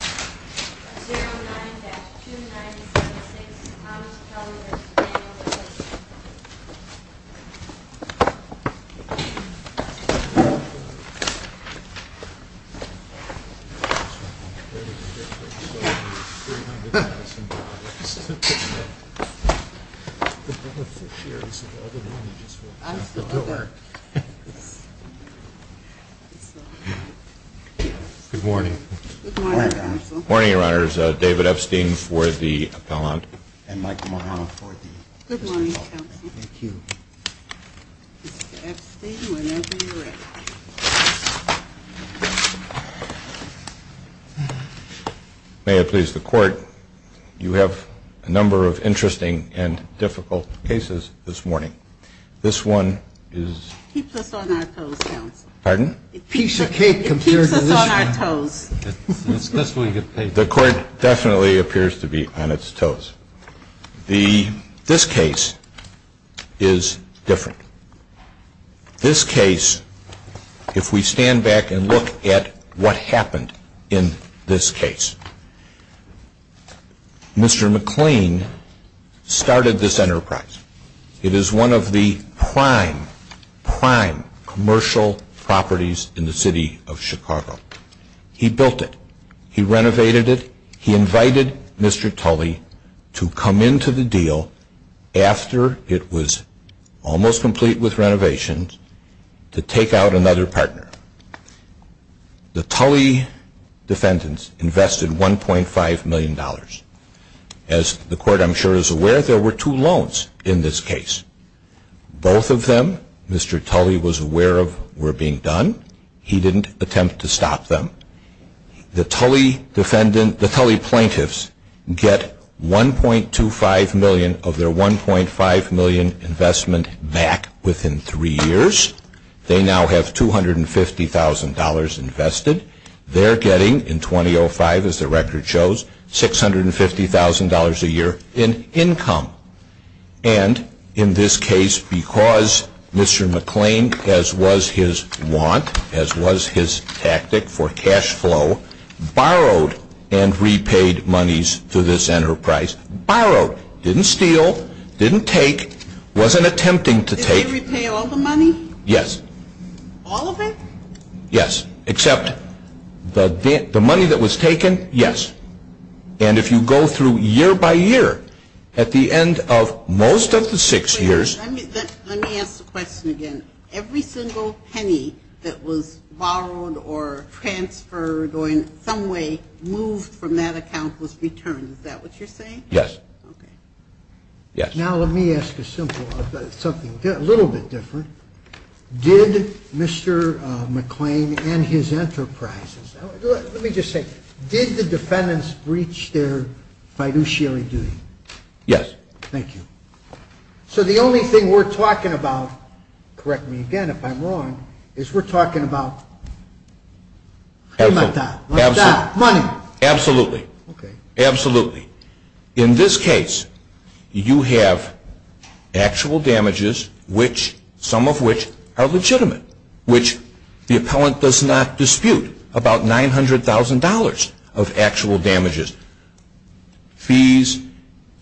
Scott Commission, On behalf of the Board of Trustees, I offer media coverage with other May I please the Court, you have a number of interesting and difficult cases this morning. This one is a piece of cake compared to the court definitely appears to be on its toes. The this case is different. This case, if we stand back and look at what happened in this case, Mr. McLean started this enterprise. It is one of the prime, prime commercial properties in the city of Chicago. He built it. He renovated it. He invited Mr. Tully to come into the deal after it was almost complete with renovations to take out another partner. The Tully defendants invested $1.5 million. As the court I'm sure is aware, there were two loans in this case. Both of them, Mr. Tully was aware of, were being done. He didn't attempt to stop them. The Tully defendant, the Tully plaintiffs get $1.25 million of their $1.5 million investment back within three years. They now have $250,000 invested. They're getting in 2005, as the record shows, $650,000 a year in income. And in this case, because Mr. McLean, as was his want, as was his tactic for cash flow, borrowed and repaid monies to this enterprise, borrowed, didn't steal, didn't take, wasn't attempting to take. Did they repay all the money? Yes. All of it? Yes, except the money that was taken, yes. And if you go through year by year, at the end of most of the six years. Let me ask the question again. Every single penny that was borrowed or transferred or in some way moved from that account was returned. Is that what you're saying? Yes. Now let me ask a simple, a little bit different. Did Mr. McLean and his enterprises, let me just say, did the defendants breach their fiduciary duty? Yes. Thank you. So the only thing we're talking about, correct me again if I'm wrong, is we're talking about money. Absolutely. Absolutely. In this case, you have actual damages which, some of which, are legitimate, which the appellant does not dispute. About $900,000 of actual damages, fees,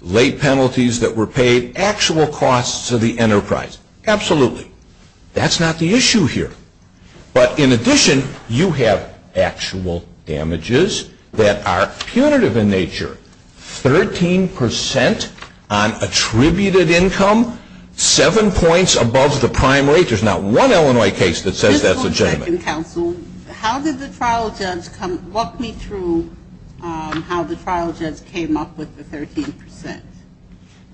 late penalties that were paid, actual costs to the enterprise, absolutely. That's not the issue here. But in addition, you have actual damages that are punitive in nature, 13 percent on attributed income, seven points above the prime rate. There's not one Illinois case that says that's legitimate. Mr. McClellan, how did the trial judge come, walk me through how the trial judge came up with the 13 percent?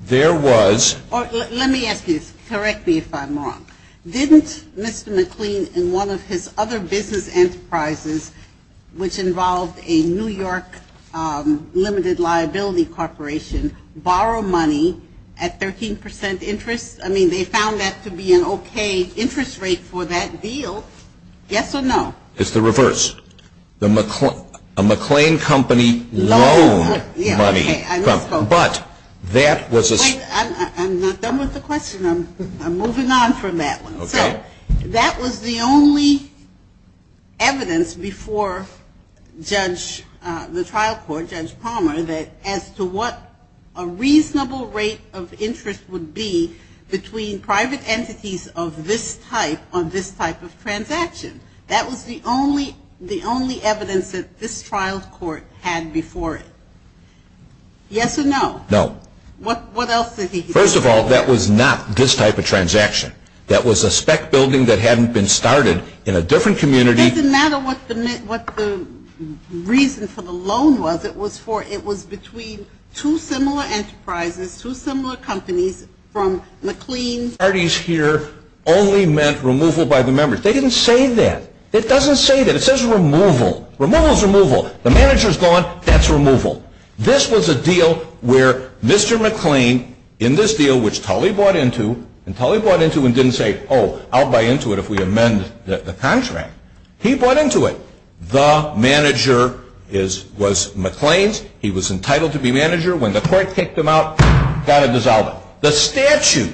There was Let me ask you, correct me if I'm wrong. Didn't Mr. McClellan and one of his other business enterprises, which involved a New York limited liability corporation, borrow money at 13 percent interest? I mean, they found that to be an okay interest rate for that deal, yes or no? It's the reverse. A McClain company loaned money, but that was Wait, I'm not done with the question. I'm moving on from that one. So that was the only evidence before the trial court, Judge Palmer, as to what a reasonable rate of interest would be between private entities of this type on this type of transaction. That was the only evidence that this trial court had before it. Yes or no? No. What else did he That was not this type of transaction. That was a spec building that hadn't been started in a different community. It doesn't matter what the reason for the loan was. It was between two similar enterprises, two similar companies, from McLean. Parties here only meant removal by the members. They didn't say that. It doesn't say that. It says removal. Removal is removal. The manager's gone, that's removal. This was a deal where Mr. McLean, in this deal, which Tully bought into, and Tully bought into and didn't say, oh, I'll buy into it if we amend the contract. He bought into it. The manager was McLean's. He was entitled to be manager. When the court kicked him out, got to dissolve it. The statute,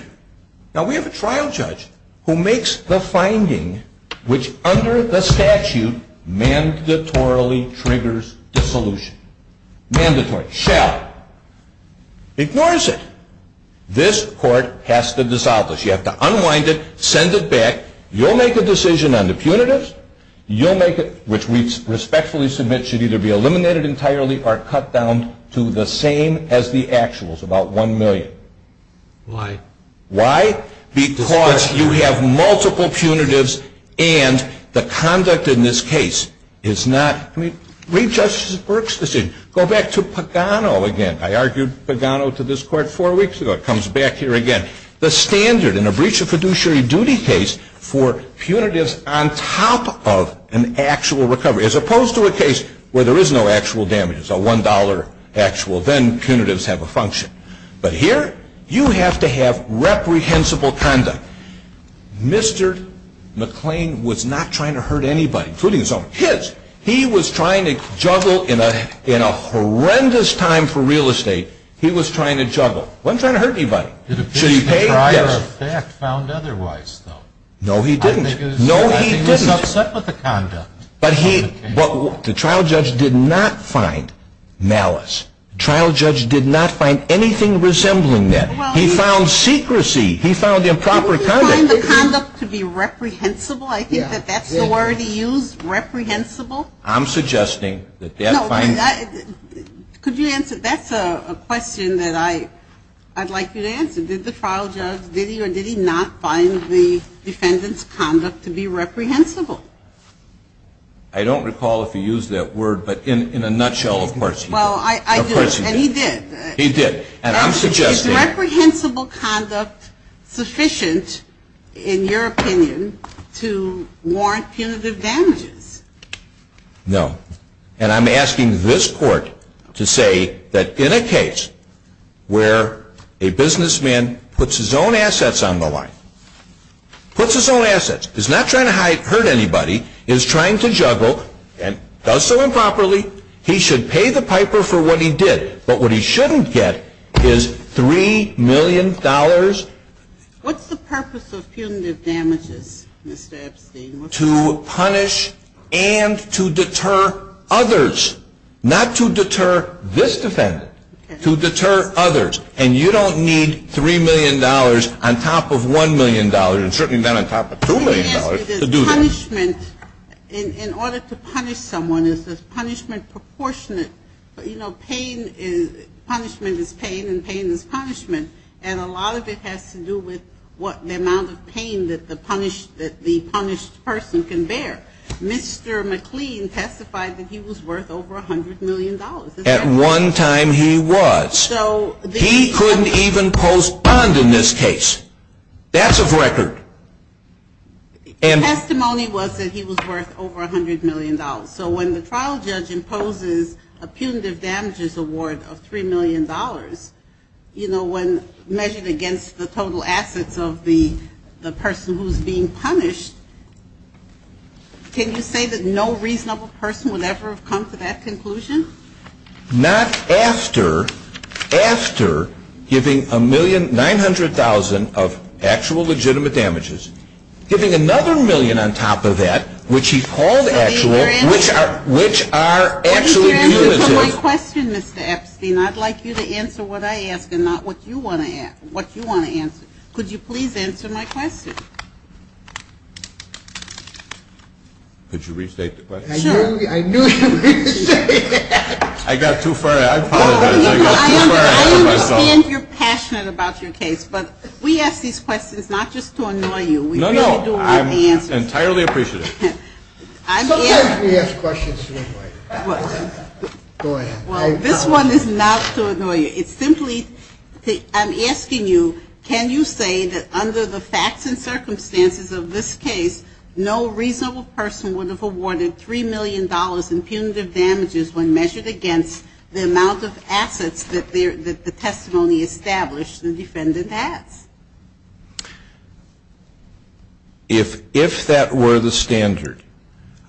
now we have a trial judge who makes the finding which under the statute mandatorily triggers dissolution. Mandatory. Shall. Ignores it. This court has to dissolve this. You have to unwind it, send it back. You'll make a decision on the punitives. You'll make it, which we respectfully submit should either be eliminated entirely or cut down to the same as the actuals, about $1 million. Why? Why? Because you have multiple punitives and the conduct in this case is not, I mean, read Justice Burke's decision. Go back to Pagano again. I argued Pagano to this court four weeks ago. It comes back here again. The standard in a breach of fiduciary duty case for punitives on top of an actual recovery, as opposed to a case where there is no actual damages, a $1 actual, then punitives have a function. But here, you have to have reprehensible conduct. Mr. McClain was not trying to hurt anybody, including his own kids. He was trying to juggle in a horrendous time for real estate. He was trying to juggle. Wasn't trying to hurt anybody. Did a trial of fact found otherwise, though? No, he didn't. No, he didn't. I think he was upset with the conduct. But he, the trial judge did not find malice. Trial judge did not find anything resembling that. He found secrecy. He found improper conduct. Didn't he find the conduct to be reprehensible? I think that that's the word he used, reprehensible. I'm suggesting that that find. Could you answer, that's a question that I'd like you to answer. Did the trial judge, did he or did he not find the defendant's conduct to be reprehensible? I don't recall if he used that word, but in a nutshell, of course he did. Well, I, I do, and he did. He did. And I'm suggesting. Is reprehensible conduct sufficient, in your opinion, to warrant punitive damages? No. And I'm asking this court to say that in a case where a businessman puts his own assets on the line, puts his own assets, is not trying to hurt anybody, is trying to juggle, and does so improperly. He should pay the piper for what he did, but what he shouldn't get is $3 million. What's the purpose of punitive damages, Mr. Epstein? To punish and to deter others. Not to deter this defendant, to deter others. And you don't need $3 million on top of $1 million, and certainly not on top of $2 million to do that. Punishment, in, in order to punish someone, is this punishment proportionate? You know, pain is, punishment is pain, and pain is punishment. And a lot of it has to do with what, the amount of pain that the punish, that the punished person can bear. Mr. McLean testified that he was worth over $100 million. At one time he was. So. He couldn't even post bond in this case. That's a record. And. Testimony was that he was worth over $100 million. So when the trial judge imposes a punitive damages award of $3 million. You know, when measured against the total assets of the, the person who's being punished, can you say that no reasonable person would ever have come to that conclusion? Not after, after giving a million, 900,000 of actual legitimate damages. Giving another million on top of that, which he called actual, which are, which are actually punitive. What is your answer to my question, Mr. Epstein? I'd like you to answer what I ask, and not what you want to ask, what you want to answer. Could you please answer my question? Could you restate the question? Sure. I knew, I knew you were going to say that. I got too far, I apologize, I got too far ahead of myself. I understand you're passionate about your case, but we ask these questions not just to annoy you. We really do want the answers. No, no, I'm entirely appreciative. I'm asking. Sometimes we ask questions to annoy you. What? Go ahead. Well, this one is not to annoy you. It's simply, I'm asking you, can you say that under the facts and circumstances of this case, no reasonable person would have awarded $3 million in punitive damages when measured against the amount of assets that the testimony established the defendant has? If that were the standard,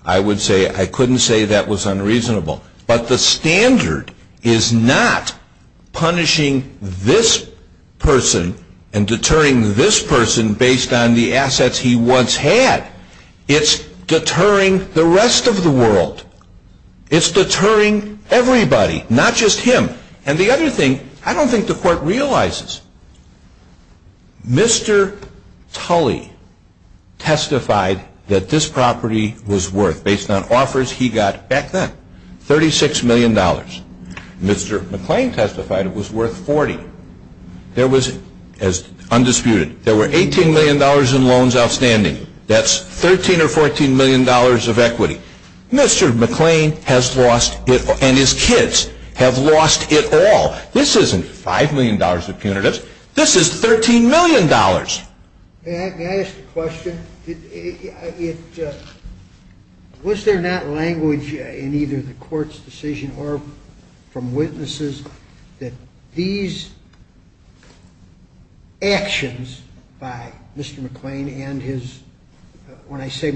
I would say, I couldn't say that was unreasonable. But the standard is not punishing this person and deterring this person based on the assets he once had. It's deterring the rest of the world. It's deterring everybody, not just him. And the other thing, I don't think the court realizes, Mr. Tully testified that this property was worth, based on offers he got back then, $36 million. Mr. McClain testified it was worth 40. There was, as undisputed, there were $18 million in loans outstanding. That's $13 or $14 million of equity. Mr. McClain has lost it, and his kids have lost it all. This isn't $5 million of punitives. This is $13 million. May I ask a question? Was there not language in either the court's decision or from witnesses that these actions by Mr. McClain and his, when I say,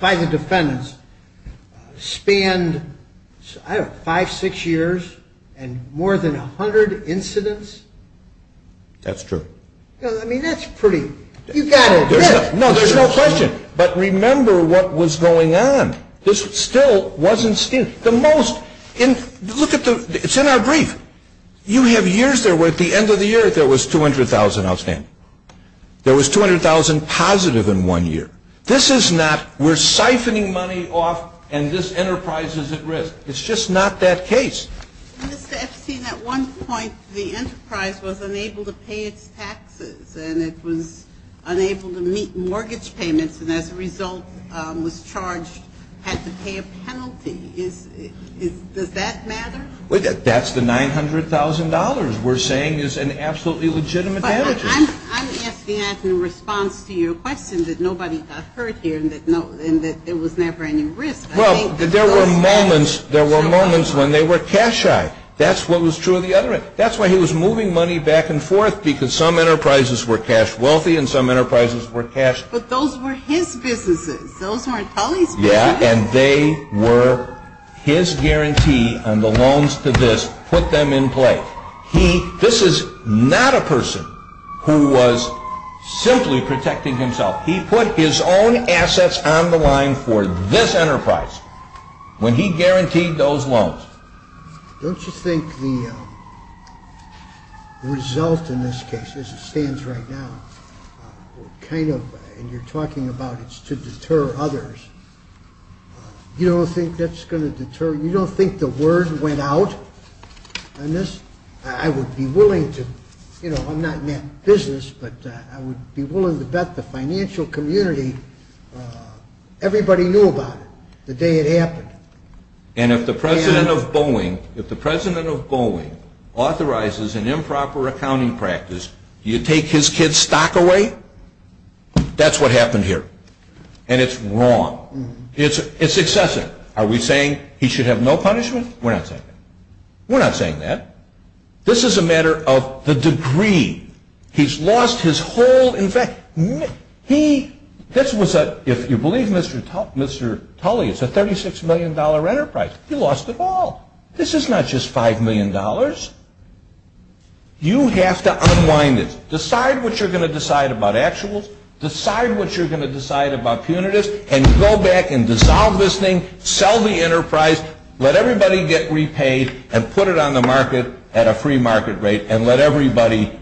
by the defendants, spanned, I don't know, five, six years, and more than 100 incidents? That's true. I mean, that's pretty, you've got to admit. No, there's no question. But remember what was going on. This still wasn't, the most, look at the, it's in our brief. You have years there where at the end of the year there was 200,000 outstanding. There was 200,000 positive in one year. This is not, we're siphoning money off, and this enterprise is at risk. It's just not that case. Mr. Epstein, at one point, the enterprise was unable to pay its taxes, and it was unable to meet mortgage payments, and as a result was charged, had to pay a penalty, is, does that matter? Well, that's the $900,000 we're saying is an absolutely legitimate damage. But I'm asking that in response to your question that nobody got hurt here and that no, and that there was never any risk. Well, there were moments, there were moments when they were cash-shy. That's what was true of the other end. That's why he was moving money back and forth, because some enterprises were cash-wealthy and some enterprises were cash. But those were his businesses. Those weren't Tully's businesses. Yeah, and they were, his guarantee on the loans to this put them in play. He, this is not a person who was simply protecting himself. He put his own assets on the line for this enterprise when he guaranteed those loans. Don't you think the result in this case, as it stands right now, kind of, and you're talking about it's to deter others. You don't think that's going to deter, you don't think the word went out on this? I would be willing to, I'm not in that business, but I would be willing to bet the financial community, everybody knew about it the day it happened. And if the president of Boeing, if the president of Boeing authorizes an improper accounting practice, you take his kid's stock away? That's what happened here. And it's wrong. It's excessive. Are we saying he should have no punishment? We're not saying that. We're not saying that. This is a matter of the degree. He's lost his whole, in fact, he, this was a, if you believe Mr. Tully, it's a $36 million enterprise. He lost it all. This is not just $5 million. You have to unwind it. Decide what you're going to decide about actuals. Decide what you're going to decide about punitives. And go back and dissolve this thing. Sell the enterprise. Let everybody get repaid and put it on the market at a free market rate. And let everybody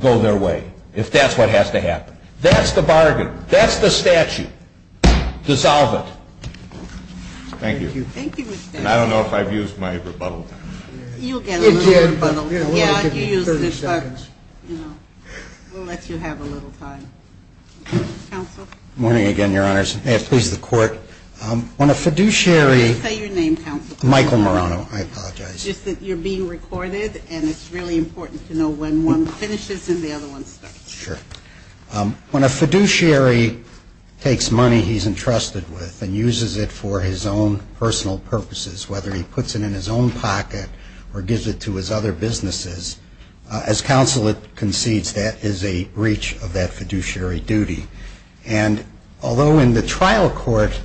go their way, if that's what has to happen. That's the bargain. That's the statute. Dissolve it. Thank you. Thank you, Mr. Tully. And I don't know if I've used my rebuttal time. You'll get a little rebuttal time. Yeah, you used it. 30 seconds. We'll let you have a little time. Counsel? Morning again, your honors. May it please the court. When a fiduciary. Say your name, counsel. Michael Marano. I apologize. Just that you're being recorded. And it's really important to know when one finishes and the other one starts. Sure. When a fiduciary takes money he's entrusted with and uses it for his own personal purposes, whether he puts it in his own pocket or gives it to his other businesses, as counsel concedes, that is a breach of that fiduciary duty. And although in the trial court,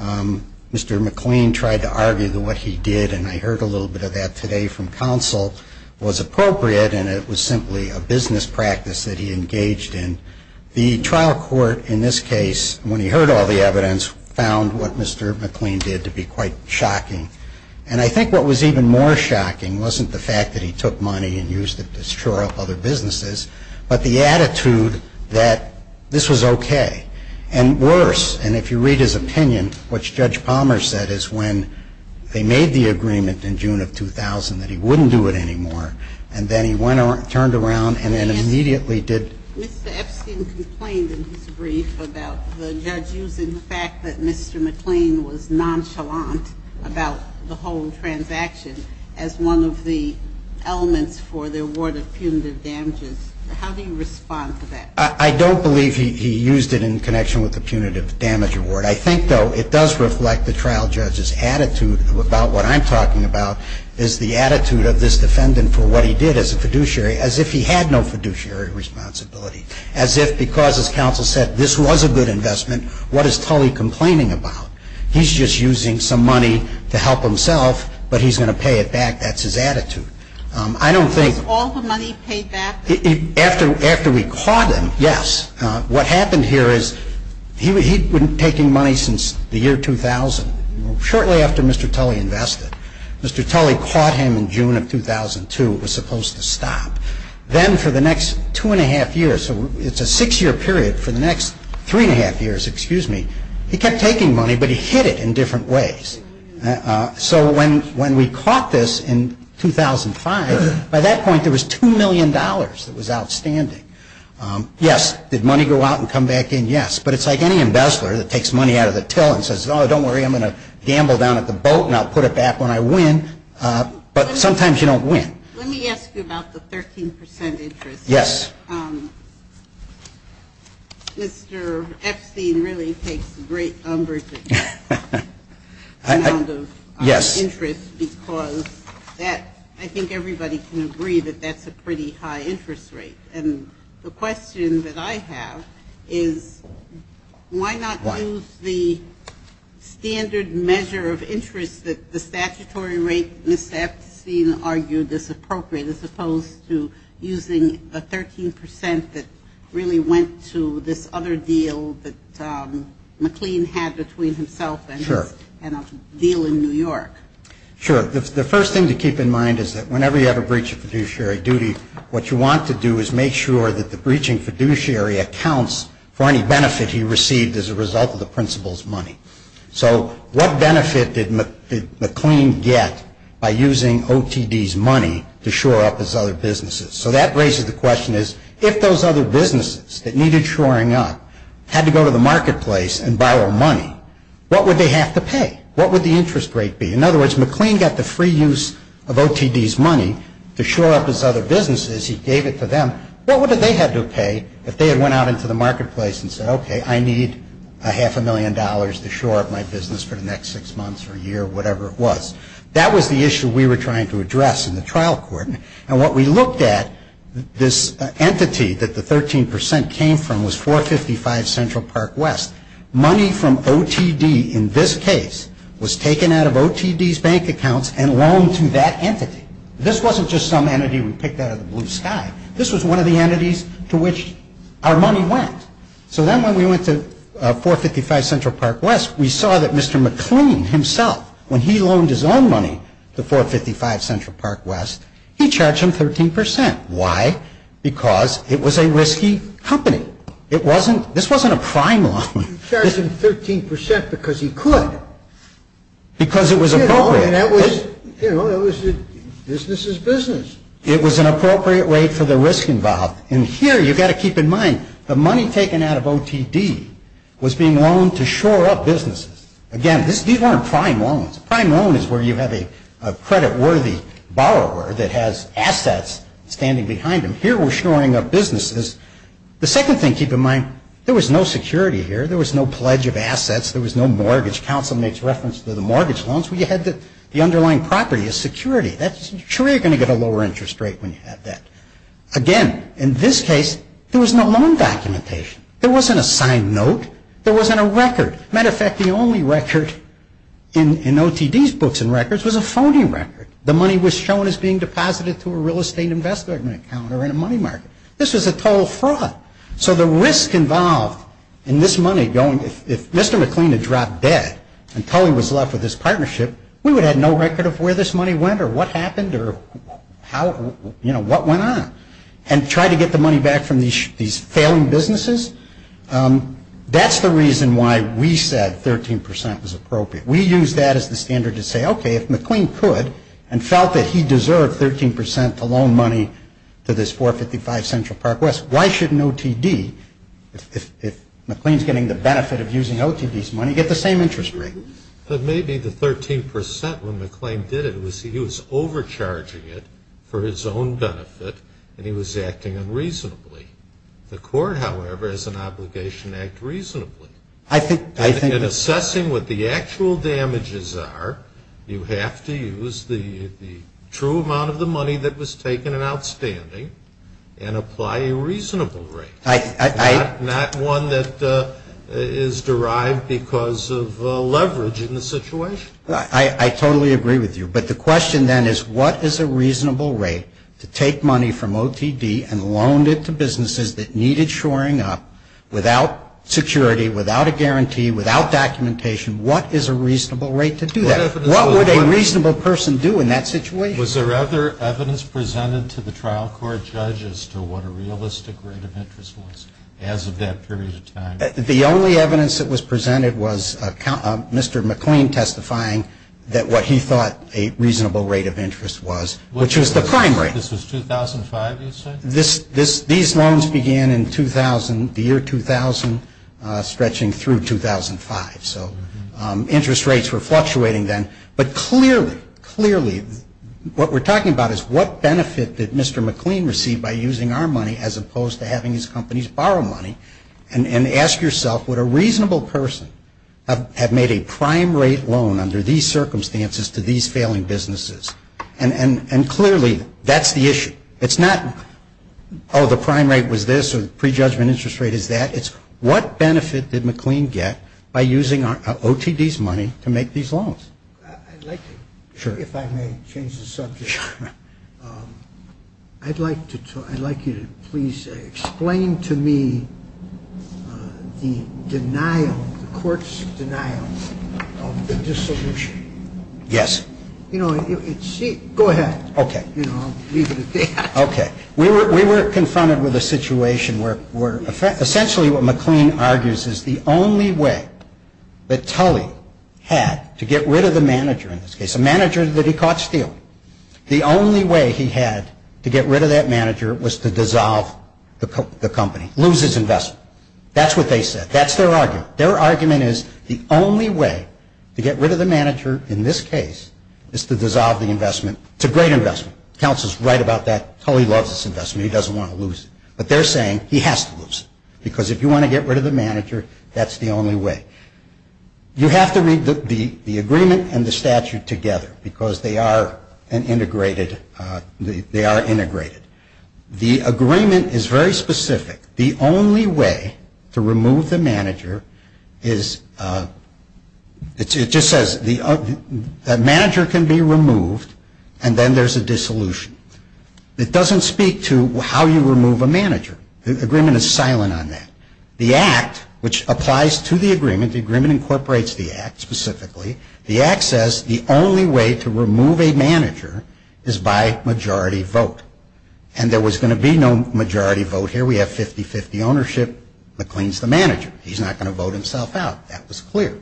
Mr. McLean tried to argue that what he did, and I heard a little bit of that today from counsel, was appropriate and it was simply a business practice that he engaged in. The trial court in this case, when he heard all the evidence, found what Mr. McLean did to be quite shocking. And I think what was even more shocking wasn't the fact that he took money and used it to shore up other businesses, but the attitude that this was okay. And worse, and if you read his opinion, which Judge Palmer said is when they made the agreement in June of 2000 that he wouldn't do it anymore. And then he went around, turned around, and then immediately did. Mr. Epstein complained in his brief about the judge using the fact that Mr. McLean was nonchalant about the whole transaction as one of the elements for the award of punitive damages. How do you respond to that? I don't believe he used it in connection with the punitive damage award. I think, though, it does reflect the trial judge's attitude about what I'm talking about is the attitude of this defendant for what he did as a fiduciary, as if he had no fiduciary responsibility. As if because, as counsel said, this was a good investment, what is Tully complaining about? He's just using some money to help himself, but he's going to pay it back. That's his attitude. I don't think- Was all the money paid back? After we caught him, yes. What happened here is he'd been taking money since the year 2000, shortly after Mr. Tully invested. Mr. Tully caught him in June of 2002, it was supposed to stop. Then for the next two and a half years, so it's a six year period, for the next three and a half years, excuse me, he kept taking money, but he hid it in different ways. So when we caught this in 2005, by that point there was $2 million that was outstanding. Yes, did money go out and come back in? Yes, but it's like any embezzler that takes money out of the till and says, don't worry, I'm going to gamble down at the boat and I'll put it back when I win. But sometimes you don't win. Let me ask you about the 13% interest. Yes. Mr. Epstein really takes a great number of interest because that, I think everybody can agree that that's a pretty high interest rate. And the question that I have is, why not use the standard measure of interest that the statutory rate, Ms. Epstein argued, is appropriate as opposed to using the 13% that really went to this other deal that McLean had between himself and his deal in New York? Sure, the first thing to keep in mind is that whenever you have a breach of fiduciary duty, what you want to do is make sure that the breaching fiduciary accounts for any benefit he received as a result of the principal's money. So what benefit did McLean get by using OTD's money to shore up his other businesses? So that raises the question is, if those other businesses that needed shoring up had to go to the marketplace and borrow money, what would they have to pay? What would the interest rate be? In other words, McLean got the free use of OTD's money to shore up his other businesses. He gave it to them. What would they have to pay if they had went out into the marketplace and said, okay, I need a half a million dollars to shore up my business for the next six months or a year, whatever it was. That was the issue we were trying to address in the trial court. And what we looked at, this entity that the 13% came from was 455 Central Park West. Money from OTD in this case was taken out of OTD's bank accounts and loaned to that entity. This wasn't just some entity we picked out of the blue sky. This was one of the entities to which our money went. So then when we went to 455 Central Park West, we saw that Mr. McLean himself, when he loaned his own money to 455 Central Park West, he charged him 13%. Why? Because it was a risky company. It wasn't. This wasn't a prime loan. He charged him 13% because he could. Because it was appropriate. You know, it was a business is business. It was an appropriate rate for the risk involved. And here, you've got to keep in mind, the money taken out of OTD was being loaned to shore up businesses. Again, these weren't prime loans. A prime loan is where you have a credit worthy borrower that has assets standing behind him. Here we're shoring up businesses. The second thing to keep in mind, there was no security here. There was no pledge of assets. There was no mortgage. Counsel makes reference to the mortgage loans. We had the underlying property as security. That's true. You're going to get a lower interest rate when you have that. Again, in this case, there was no loan documentation. There wasn't a signed note. There wasn't a record. Matter of fact, the only record in OTD's books and records was a phony record. The money was shown as being deposited to a real estate investment account or in a money market. This was a total fraud. So the risk involved in this money going, if Mr. McLean had dropped dead and Tully was left with this partnership, we would have no record of where this money went or what happened or how, you know, what went on, and try to get the money back from these failing businesses. That's the reason why we said 13% was appropriate. We used that as the standard to say, okay, if McLean could and felt that he deserved 13% to loan money to this 455 Central Park West, why shouldn't OTD, if McLean's getting the benefit of using OTD's money, get the same interest rate? But maybe the 13% when McLean did it was he was overcharging it for his own benefit, and he was acting unreasonably. The court, however, has an obligation to act reasonably. I think. In assessing what the actual damages are, you have to use the true amount of the money that was taken and outstanding and apply a reasonable rate. Not one that is derived because of leverage in the situation. I totally agree with you. But the question then is what is a reasonable rate to take money from OTD and loan it to businesses that needed shoring up without security, without a guarantee, without documentation, what is a reasonable rate to do that? What would a reasonable person do in that situation? Was there other evidence presented to the trial court judge as to what a realistic rate of interest was as of that period of time? The only evidence that was presented was Mr. McLean testifying that what he thought a reasonable rate of interest was, which was the prime rate. This was 2005 you said? These loans began in 2000, the year 2000, stretching through 2005. So interest rates were fluctuating then. But clearly, clearly what we're talking about is what benefit did Mr. McLean receive by using our money as opposed to having his companies borrow money and ask yourself would a reasonable person have made a prime rate loan under these circumstances to these failing businesses? And clearly that's the issue. It's not oh the prime rate was this or the prejudgment interest rate is that. It's what benefit did McLean get by using OTD's money to make these loans? I'd like to, if I may change the subject, I'd like to, I'd like you to please explain to me the denial, the court's denial of the dissolution. Yes. You know, it's, go ahead. Okay. You know, I'll leave it at that. Okay. We were confronted with a situation where essentially what McLean argues is the only way that Tully had to get rid of the manager in this case, a manager that he caught stealing. The only way he had to get rid of that manager was to dissolve the company, lose his investment. That's what they said. That's their argument. Their argument is the only way to get rid of the manager in this case is to dissolve the investment. It's a great investment. Counsel's right about that. Tully loves this investment. He doesn't want to lose it. But they're saying he has to lose it because if you want to get rid of the manager, that's the only way. You have to read the agreement and the statute together because they are an integrated, they are integrated. The agreement is very specific. The only way to remove the manager is, it just says the manager can be removed and then there's a dissolution. It doesn't speak to how you remove a manager. The agreement is silent on that. The act, which applies to the agreement, the agreement incorporates the act specifically, the act says the only way to remove a manager is by majority vote. And there was going to be no majority vote here. We have 50-50 ownership. McLean's the manager. He's not going to vote himself out. That was clear.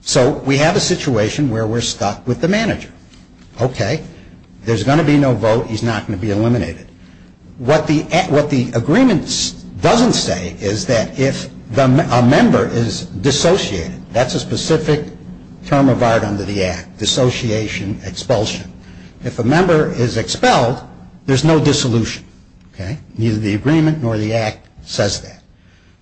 So we have a situation where we're stuck with the manager. Okay. There's going to be no vote. He's not going to be eliminated. What the agreement doesn't say is that if a member is dissociated, that's a specific term of art under the act, dissociation, expulsion. If a member is expelled, there's no dissolution. Okay. Neither the agreement nor the act says that.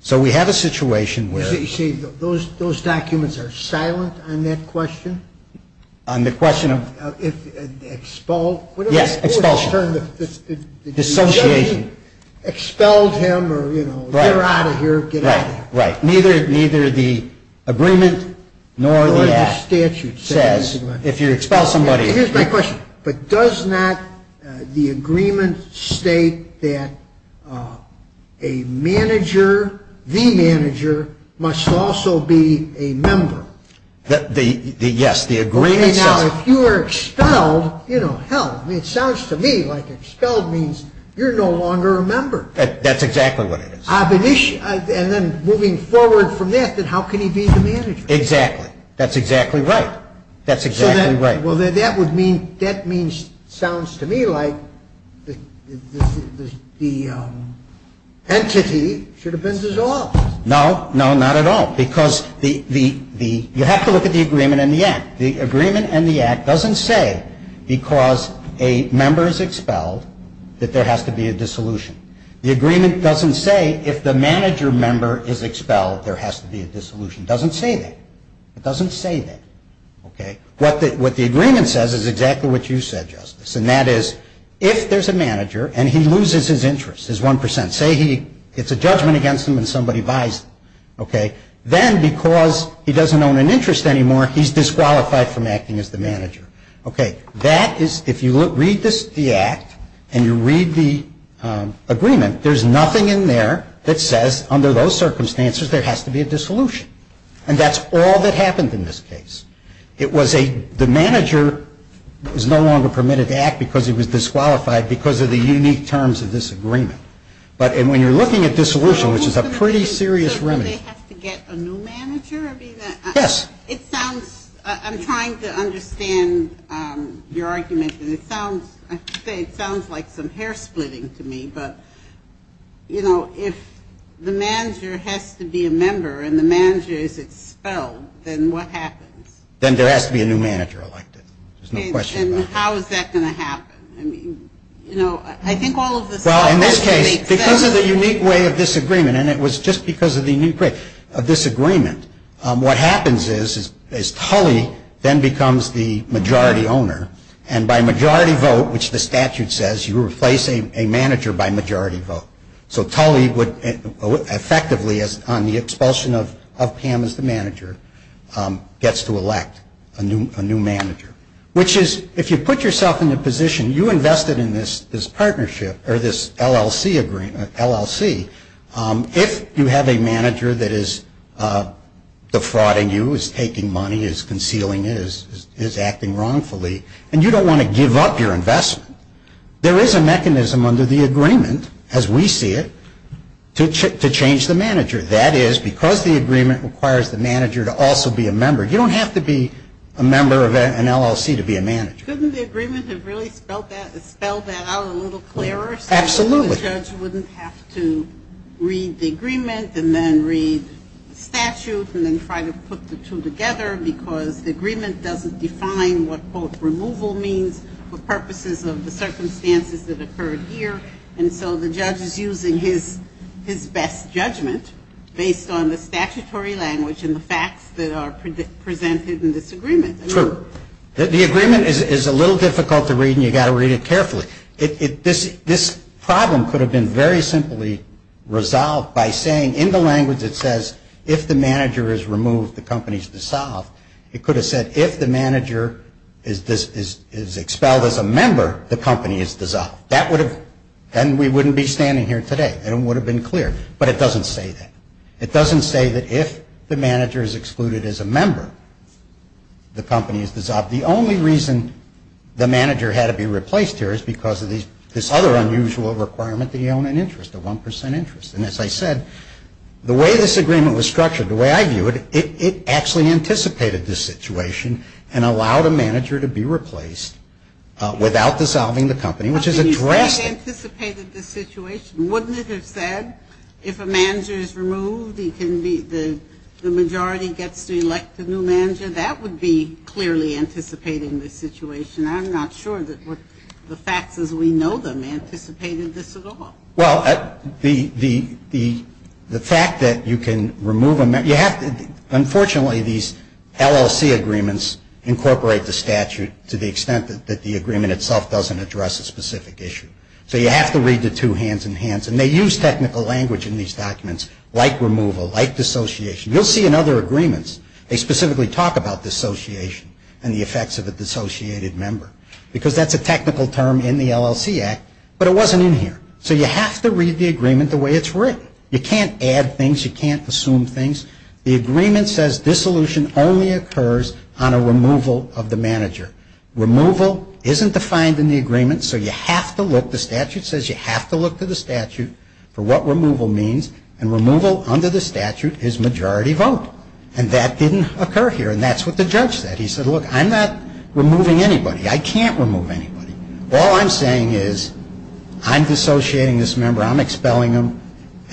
So we have a situation where... You say those documents are silent on that question? On the question of... If expelled? Yes, expulsion. Dissociation. Expelled him or, you know, they're out of here, get out of here. Right. Neither the agreement nor the act says if you expel somebody... Here's my question. But does not the agreement state that a manager, the manager, must also be a member? Yes, the agreement says... Okay, now, if you are expelled, you know, hell, it sounds to me like expelled means you're no longer a member. That's exactly what it is. And then moving forward from that, then how can he be the manager? Exactly. That's exactly right. That's exactly right. Well, that would mean, that means, sounds to me like the entity should have been dissolved. No, no, not at all. Because the... You have to look at the agreement and the act. The agreement and the act doesn't say, because a member is expelled, that there has to be a dissolution. The agreement doesn't say, if the manager member is expelled, there has to be a dissolution. It doesn't say that. It doesn't say that, okay? What the agreement says is exactly what you said, Justice. And that is, if there's a manager and he loses his interest, his 1%, and say he gets a judgment against him and somebody buys him, okay, then because he doesn't own an interest anymore, he's disqualified from acting as the manager. Okay, that is, if you read the act and you read the agreement, there's nothing in there that says, under those circumstances, there has to be a dissolution. And that's all that happened in this case. It was a, the manager is no longer permitted to act because he was disqualified because of the unique terms of this agreement. But, and when you're looking at dissolution, which is a pretty serious remedy. So, do they have to get a new manager? I mean, it sounds, I'm trying to understand your argument, and it sounds, I have to say, it sounds like some hair splitting to me. But, you know, if the manager has to be a member and the manager is expelled, then what happens? Then there has to be a new manager elected. There's no question about it. And how is that going to happen? I mean, you know, I think all of this. Well, in this case, because of the unique way of this agreement, and it was just because of the unique way of this agreement, what happens is Tully then becomes the majority owner. And by majority vote, which the statute says, you replace a manager by majority vote. So Tully would effectively, on the expulsion of Pam as the manager, gets to elect a new manager. Which is, if you put yourself in a position, you invested in this partnership, or this LLC agreement, LLC, if you have a manager that is defrauding you, is taking money, is concealing it, is acting wrongfully, and you don't want to give up your investment, there is a mechanism under the agreement, as we see it, to change the manager. That is, because the agreement requires the manager to also be a member, you don't have to be a member of an LLC to be a manager. Couldn't the agreement have really spelled that out a little clearer? Absolutely. So the judge wouldn't have to read the agreement, and then read the statute, and then try to put the two together, because the agreement doesn't define what, quote, removal means, for purposes of the circumstances that occurred here. And so the judge is using his best judgment, based on the statutory language, and the facts that are presented in this agreement. True. The agreement is a little difficult to read, and you've got to read it carefully. This problem could have been very simply resolved by saying, in the language that says, if the manager is removed, the company is dissolved, it could have said, if the manager is expelled as a member, the company is dissolved. That would have, then we wouldn't be standing here today, and it would have been clear. But it doesn't say that. It doesn't say that if the manager is excluded as a member, the company is dissolved. The only reason the manager had to be replaced here is because of this other unusual requirement that you own an interest, a 1% interest. And as I said, the way this agreement was structured, the way I view it, it actually anticipated this situation, and allowed a manager to be replaced without dissolving the company, which is a drastic. They anticipated this situation. Wouldn't it have said, if a manager is removed, he can be, the majority gets to elect a new manager? That would be clearly anticipating this situation. I'm not sure that what the facts as we know them anticipated this at all. Well, the fact that you can remove a manager, you have to, unfortunately, these LLC agreements incorporate the statute to the extent that the agreement itself doesn't address a specific issue. So you have to read the two hands in hands. And they use technical language in these documents, like removal, like dissociation. You'll see in other agreements, they specifically talk about dissociation and the effects of a dissociated member. Because that's a technical term in the LLC Act, but it wasn't in here. So you have to read the agreement the way it's written. You can't add things. You can't assume things. The agreement says, dissolution only occurs on a removal of the manager. Removal isn't defined in the agreement. So you have to look, the statute says you have to look to the statute for what removal means. And removal under the statute is majority vote. And that didn't occur here. And that's what the judge said. He said, look, I'm not removing anybody. I can't remove anybody. All I'm saying is, I'm dissociating this member. I'm expelling him.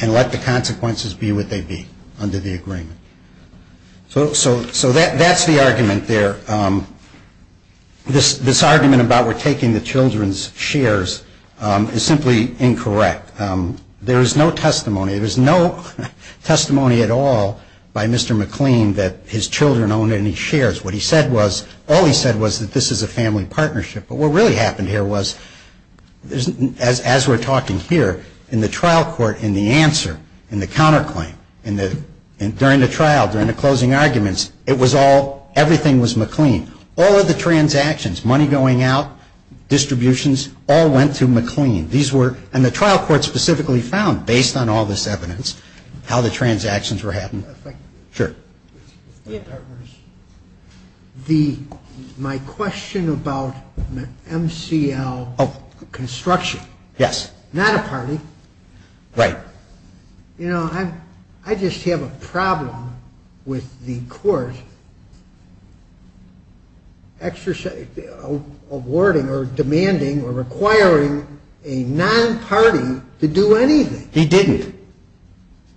And let the consequences be what they be under the agreement. So that's the argument there. This argument about we're taking the children's shares is simply incorrect. There is no testimony. There's no testimony at all by Mr. McLean that his children own any shares. What he said was, all he said was that this is a family partnership. But what really happened here was, as we're talking here, in the trial court, in the answer, in the counterclaim, during the trial, during the closing arguments, it was all, everything was McLean. All of the transactions, money going out, distributions, all went to McLean. These were, and the trial court specifically found, based on all this evidence, how the transactions were happening. Sure. My question about MCL construction. Yes. Not a party. Right. You know, I just have a problem with the court awarding or demanding or requiring a non-party to do anything. He didn't.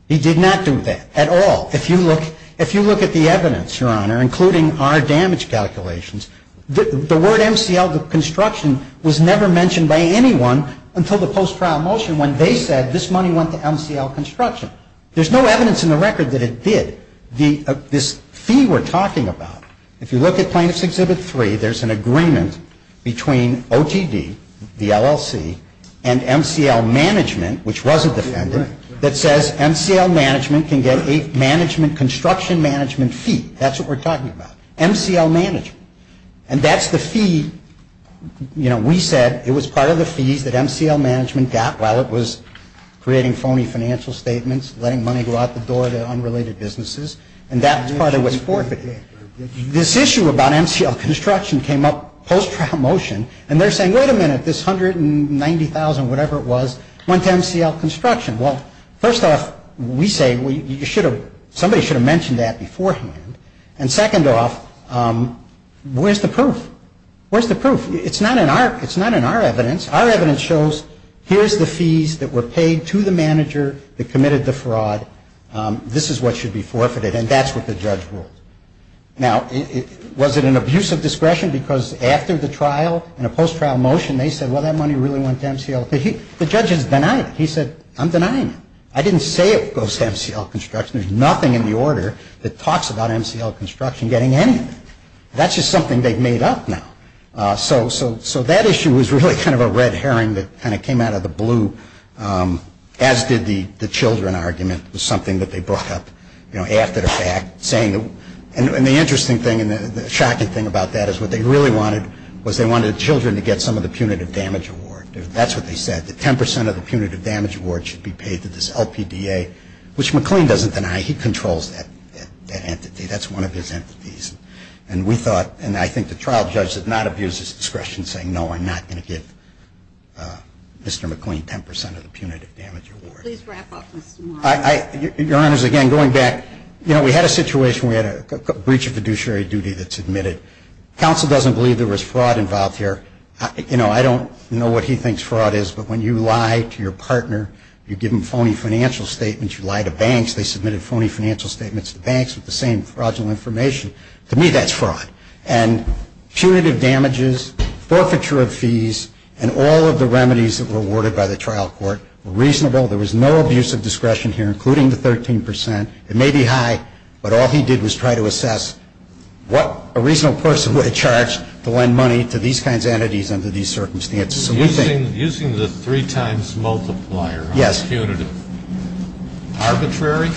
He did not do that at all. If you look at the evidence, Your Honor, including our damage calculations, the word MCL construction was never mentioned by anyone until the post-trial motion when they said this money went to MCL construction. There's no evidence in the record that it did. This fee we're talking about, if you look at Plaintiff's Exhibit 3, there's an agreement between OTD, the LLC, and MCL management, which was a defendant, that says MCL management can get a management construction management fee. That's what we're talking about, MCL management. And that's the fee, you know, we said it was part of the fees that MCL management got while it was creating phony financial statements, letting money go out the door to unrelated businesses. And that's part of what's forfeited. This issue about MCL construction came up post-trial motion, and they're saying, wait a minute, this $190,000, whatever it was, went to MCL construction. Well, first off, we say somebody should have mentioned that beforehand. And second off, where's the proof? Where's the proof? It's not in our evidence. Our evidence shows here's the fees that were paid to the manager that committed the fraud. This is what should be forfeited, and that's what the judge ruled. Now, was it an abuse of discretion? Because after the trial, in a post-trial motion, they said, well, that money really went to MCL. The judge is denying it. He said, I'm denying it. I didn't say it goes to MCL construction. There's nothing in the order that talks about MCL construction getting anything. That's just something they've made up now. So that issue was really kind of a red herring that kind of came out of the blue, as did the children argument, was something that they brought up, you know, after the fact, saying. And the interesting thing and the shocking thing about that is what they really wanted was they wanted children to get some of the punitive damage award. That's what they said, that 10% of the punitive damage award should be paid to this LPDA, which McLean doesn't deny. He controls that entity. That's one of his entities. And we thought, and I think the trial judge did not abuse his discretion in saying, no, I'm not going to give Mr. McLean 10% of the punitive damage award. Please wrap up, Mr. Morrow. Your Honors, again, going back, you know, we had a situation, we had a breach of fiduciary duty that's admitted. Counsel doesn't believe there was fraud involved here. You know, I don't know what he thinks fraud is, but when you lie to your partner, you give them phony financial statements, you lie to banks. They submitted phony financial statements to banks with the same fraudulent information. To me, that's fraud. And punitive damages, forfeiture of fees, and all of the remedies that were awarded by the trial court were reasonable. There was no abuse of discretion here, including the 13%. It may be high, but all he did was try to assess what a reasonable person would have charged to lend money to these kinds of entities under these circumstances. Using the three times multiplier on punitive, arbitrary?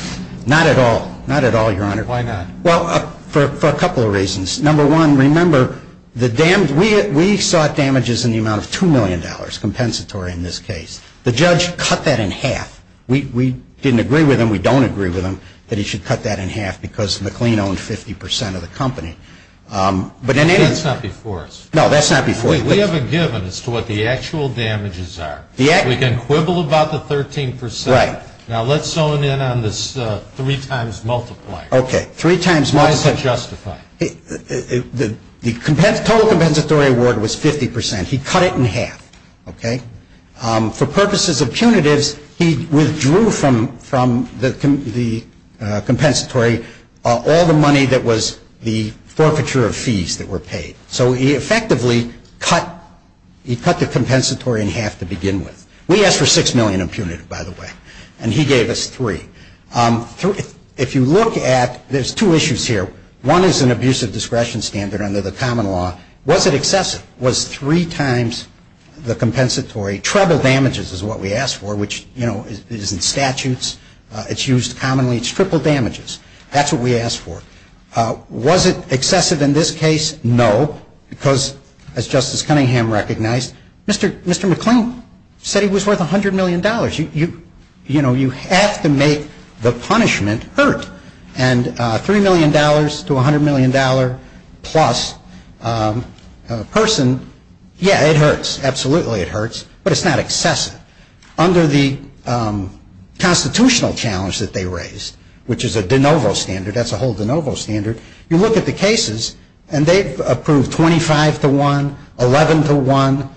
Not at all. Not at all, Your Honor. Why not? Well, for a couple of reasons. Number one, remember, we sought damages in the amount of $2 million, compensatory in this case. The judge cut that in half. We didn't agree with him, we don't agree with him, that he should cut that in half because McLean owned 50% of the company. That's not before us. No, that's not before you. We have a given as to what the actual damages are. We can quibble about the 13%. Right. Now, let's zone in on this three times multiplier. Okay. Three times multiplier. Why is it justified? The total compensatory award was 50%. He cut it in half, okay? For purposes of punitives, he withdrew from the compensatory all the money that was the forfeiture of fees that were paid. So he effectively cut, he cut the compensatory in half to begin with. We asked for $6 million in punitive, by the way, and he gave us $3 million. If you look at, there's two issues here. One is an abusive discretion standard under the common law. Was it excessive? Was three times the compensatory, treble damages is what we asked for, which, you know, is in statutes. It's used commonly. It's triple damages. That's what we asked for. Was it excessive in this case? No, because as Justice Cunningham recognized, Mr. McLean said he was worth $100 million. You know, you have to make the punishment hurt, and $3 million to $100 million plus person, yeah, it hurts. Absolutely it hurts, but it's not excessive. Under the constitutional challenge that they raised, which is a de novo standard, that's a whole de novo standard, you look at the cases, and they've approved 25 to 1, 11 to 1,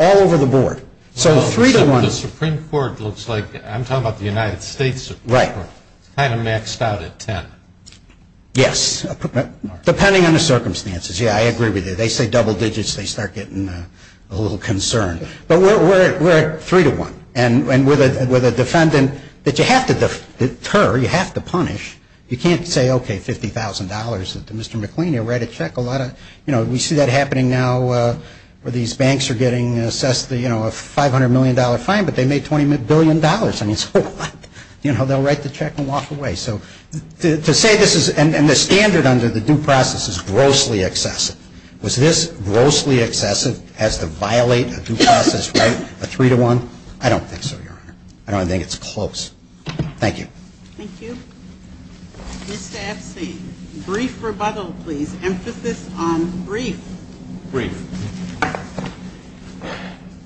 all over the board. So 3 to 1. The Supreme Court looks like, I'm talking about the United States Supreme Court, kind of maxed out at 10. Yes, depending on the circumstances. Yeah, I agree with you. They say double digits, they start getting a little concerned. But we're at 3 to 1, and with a defendant that you have to deter, you have to punish. You can't say, okay, $50,000 to Mr. McLean, he'll write a check, a lot of, you know, we see that happening now where these banks are getting assessed the, you know, a $500 million fine, but they made $20 billion. I mean, so what? You know, they'll write the check and walk away. So to say this is, and the standard under the due process is grossly excessive. Was this grossly excessive as to violate a due process right, a 3 to 1? I don't think so, Your Honor. I don't think it's close. Thank you. Thank you. Mr. Epstein, brief rebuttal, please. Emphasis on brief. Brief.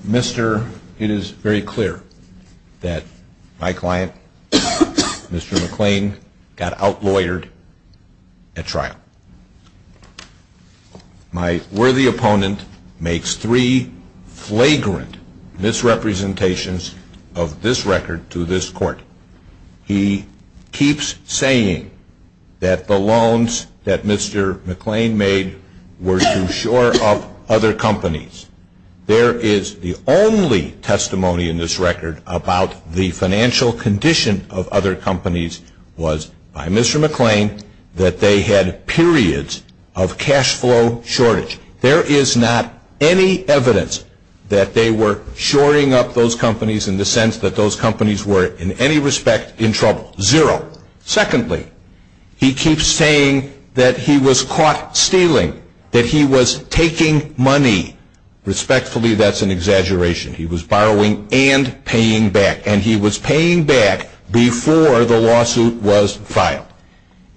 Mister, it is very clear that my client, Mr. McLean, got outlawyered at trial. My worthy opponent makes three flagrant misrepresentations of this record to this court. He keeps saying that the loans that Mr. McLean made were to shore up other companies. There is the only testimony in this record about the financial condition of other companies was by Mr. McLean that they had periods of cash flow shortage. There is not any evidence that they were shoring up those companies in the sense that those companies were in any respect in trouble, zero. Secondly, he keeps saying that he was caught stealing, that he was taking money. Respectfully, that's an exaggeration. He was borrowing and paying back. And he was paying back before the lawsuit was filed.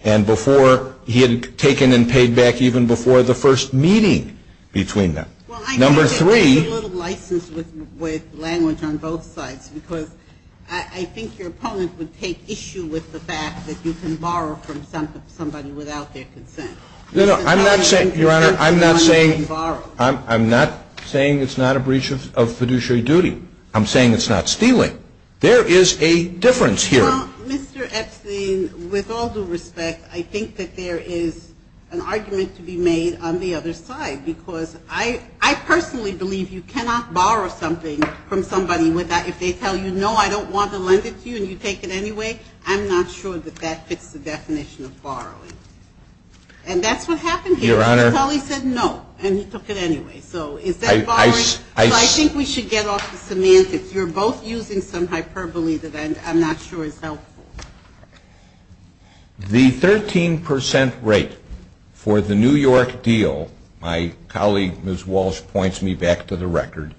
And before he had taken and paid back even before the first meeting between them. Number three. Well, I think that there's a little license with language on both sides. Because I think your opponent would take issue with the fact that you can borrow from somebody without their consent. No, no, I'm not saying, Your Honor, I'm not saying it's not a breach of fiduciary duty. I'm saying it's not stealing. There is a difference here. Well, Mr. Epstein, with all due respect, I think that there is an argument to be made on the other side. Because I personally believe you cannot borrow something from somebody if they tell you, no, I don't want to lend it to you and you take it anyway. I'm not sure that that fits the definition of borrowing. And that's what happened here. Your Honor. He said no, and he took it anyway. So is that borrowing? So I think we should get off the semantics. You're both using some hyperbole that I'm not sure is helpful. The 13 percent rate for the New York deal, my colleague, Ms. Walsh, points me back to the record.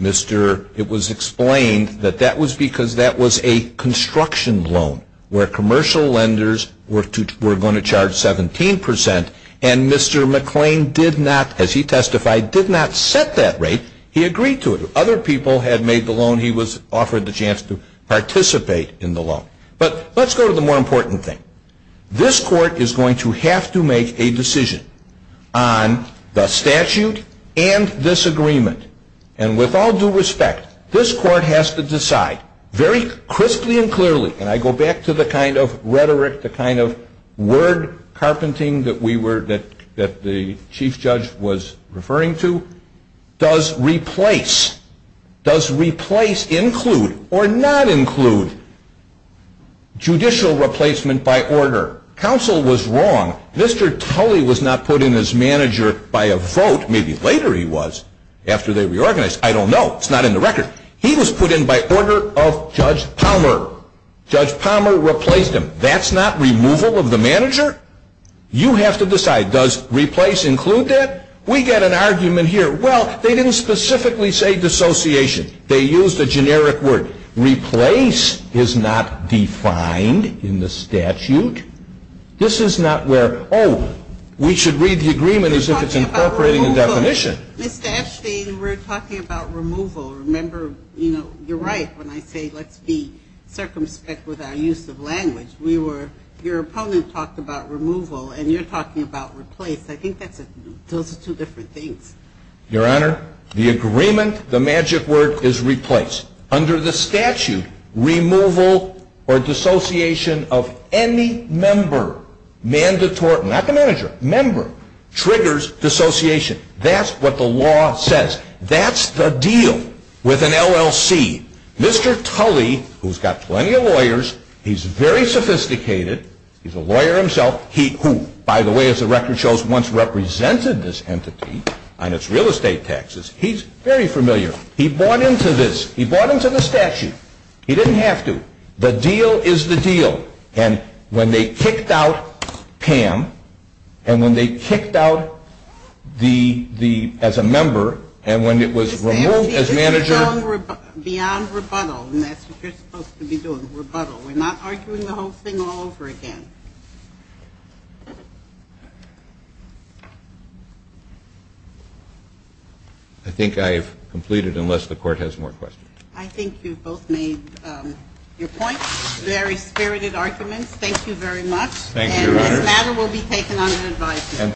It was explained that that was because that was a construction loan where commercial lenders were going to charge 17 percent. And Mr. McClain did not, as he testified, did not set that rate. He agreed to it. Other people had made the loan. He was offered the chance to participate in the loan. But let's go to the more important thing. This Court is going to have to make a decision on the statute and this agreement. And with all due respect, this Court has to decide very crisply and clearly, and I go back to the kind of rhetoric, the kind of word carpenting that we were, that the Chief Judge was referring to, does replace, does replace include or not include judicial replacement by order? Counsel was wrong. Mr. Tully was not put in as manager by a vote, maybe later he was, after they reorganized. I don't know. It's not in the record. He was put in by order of Judge Palmer. Judge Palmer replaced him. That's not removal of the manager? You have to decide. Does replace include that? We get an argument here. Well, they didn't specifically say dissociation. They used a generic word. Replace is not defined in the statute. This is not where, oh, we should read the agreement as if it's incorporating a definition. Ms. Dashteen, we're talking about removal. Remember, you know, you're right when I say let's be circumspect with our use of language. We were, your opponent talked about removal and you're talking about replace. I think that's a, those are two different things. Your Honor, the agreement, the magic word is replace. Under the statute, removal or dissociation of any member, mandatory, not the manager, member, triggers dissociation. That's what the law says. That's the deal with an LLC. Mr. Tully, who's got plenty of lawyers, he's very sophisticated. He's a lawyer himself. He, who, by the way, as the record shows, once represented this entity. And it's real estate taxes. He's very familiar. He bought into this. He bought into the statute. He didn't have to. The deal is the deal. And when they kicked out Pam, and when they kicked out the, the, as a member, and when it was removed as manager. Beyond rebuttal, and that's what you're supposed to be doing, rebuttal. We're not arguing the whole thing all over again. I think I've completed, unless the court has more questions. I think you've both made your points. Very spirited arguments. Thank you very much. Thank you, Your Honor. And this matter will be taken under advisement.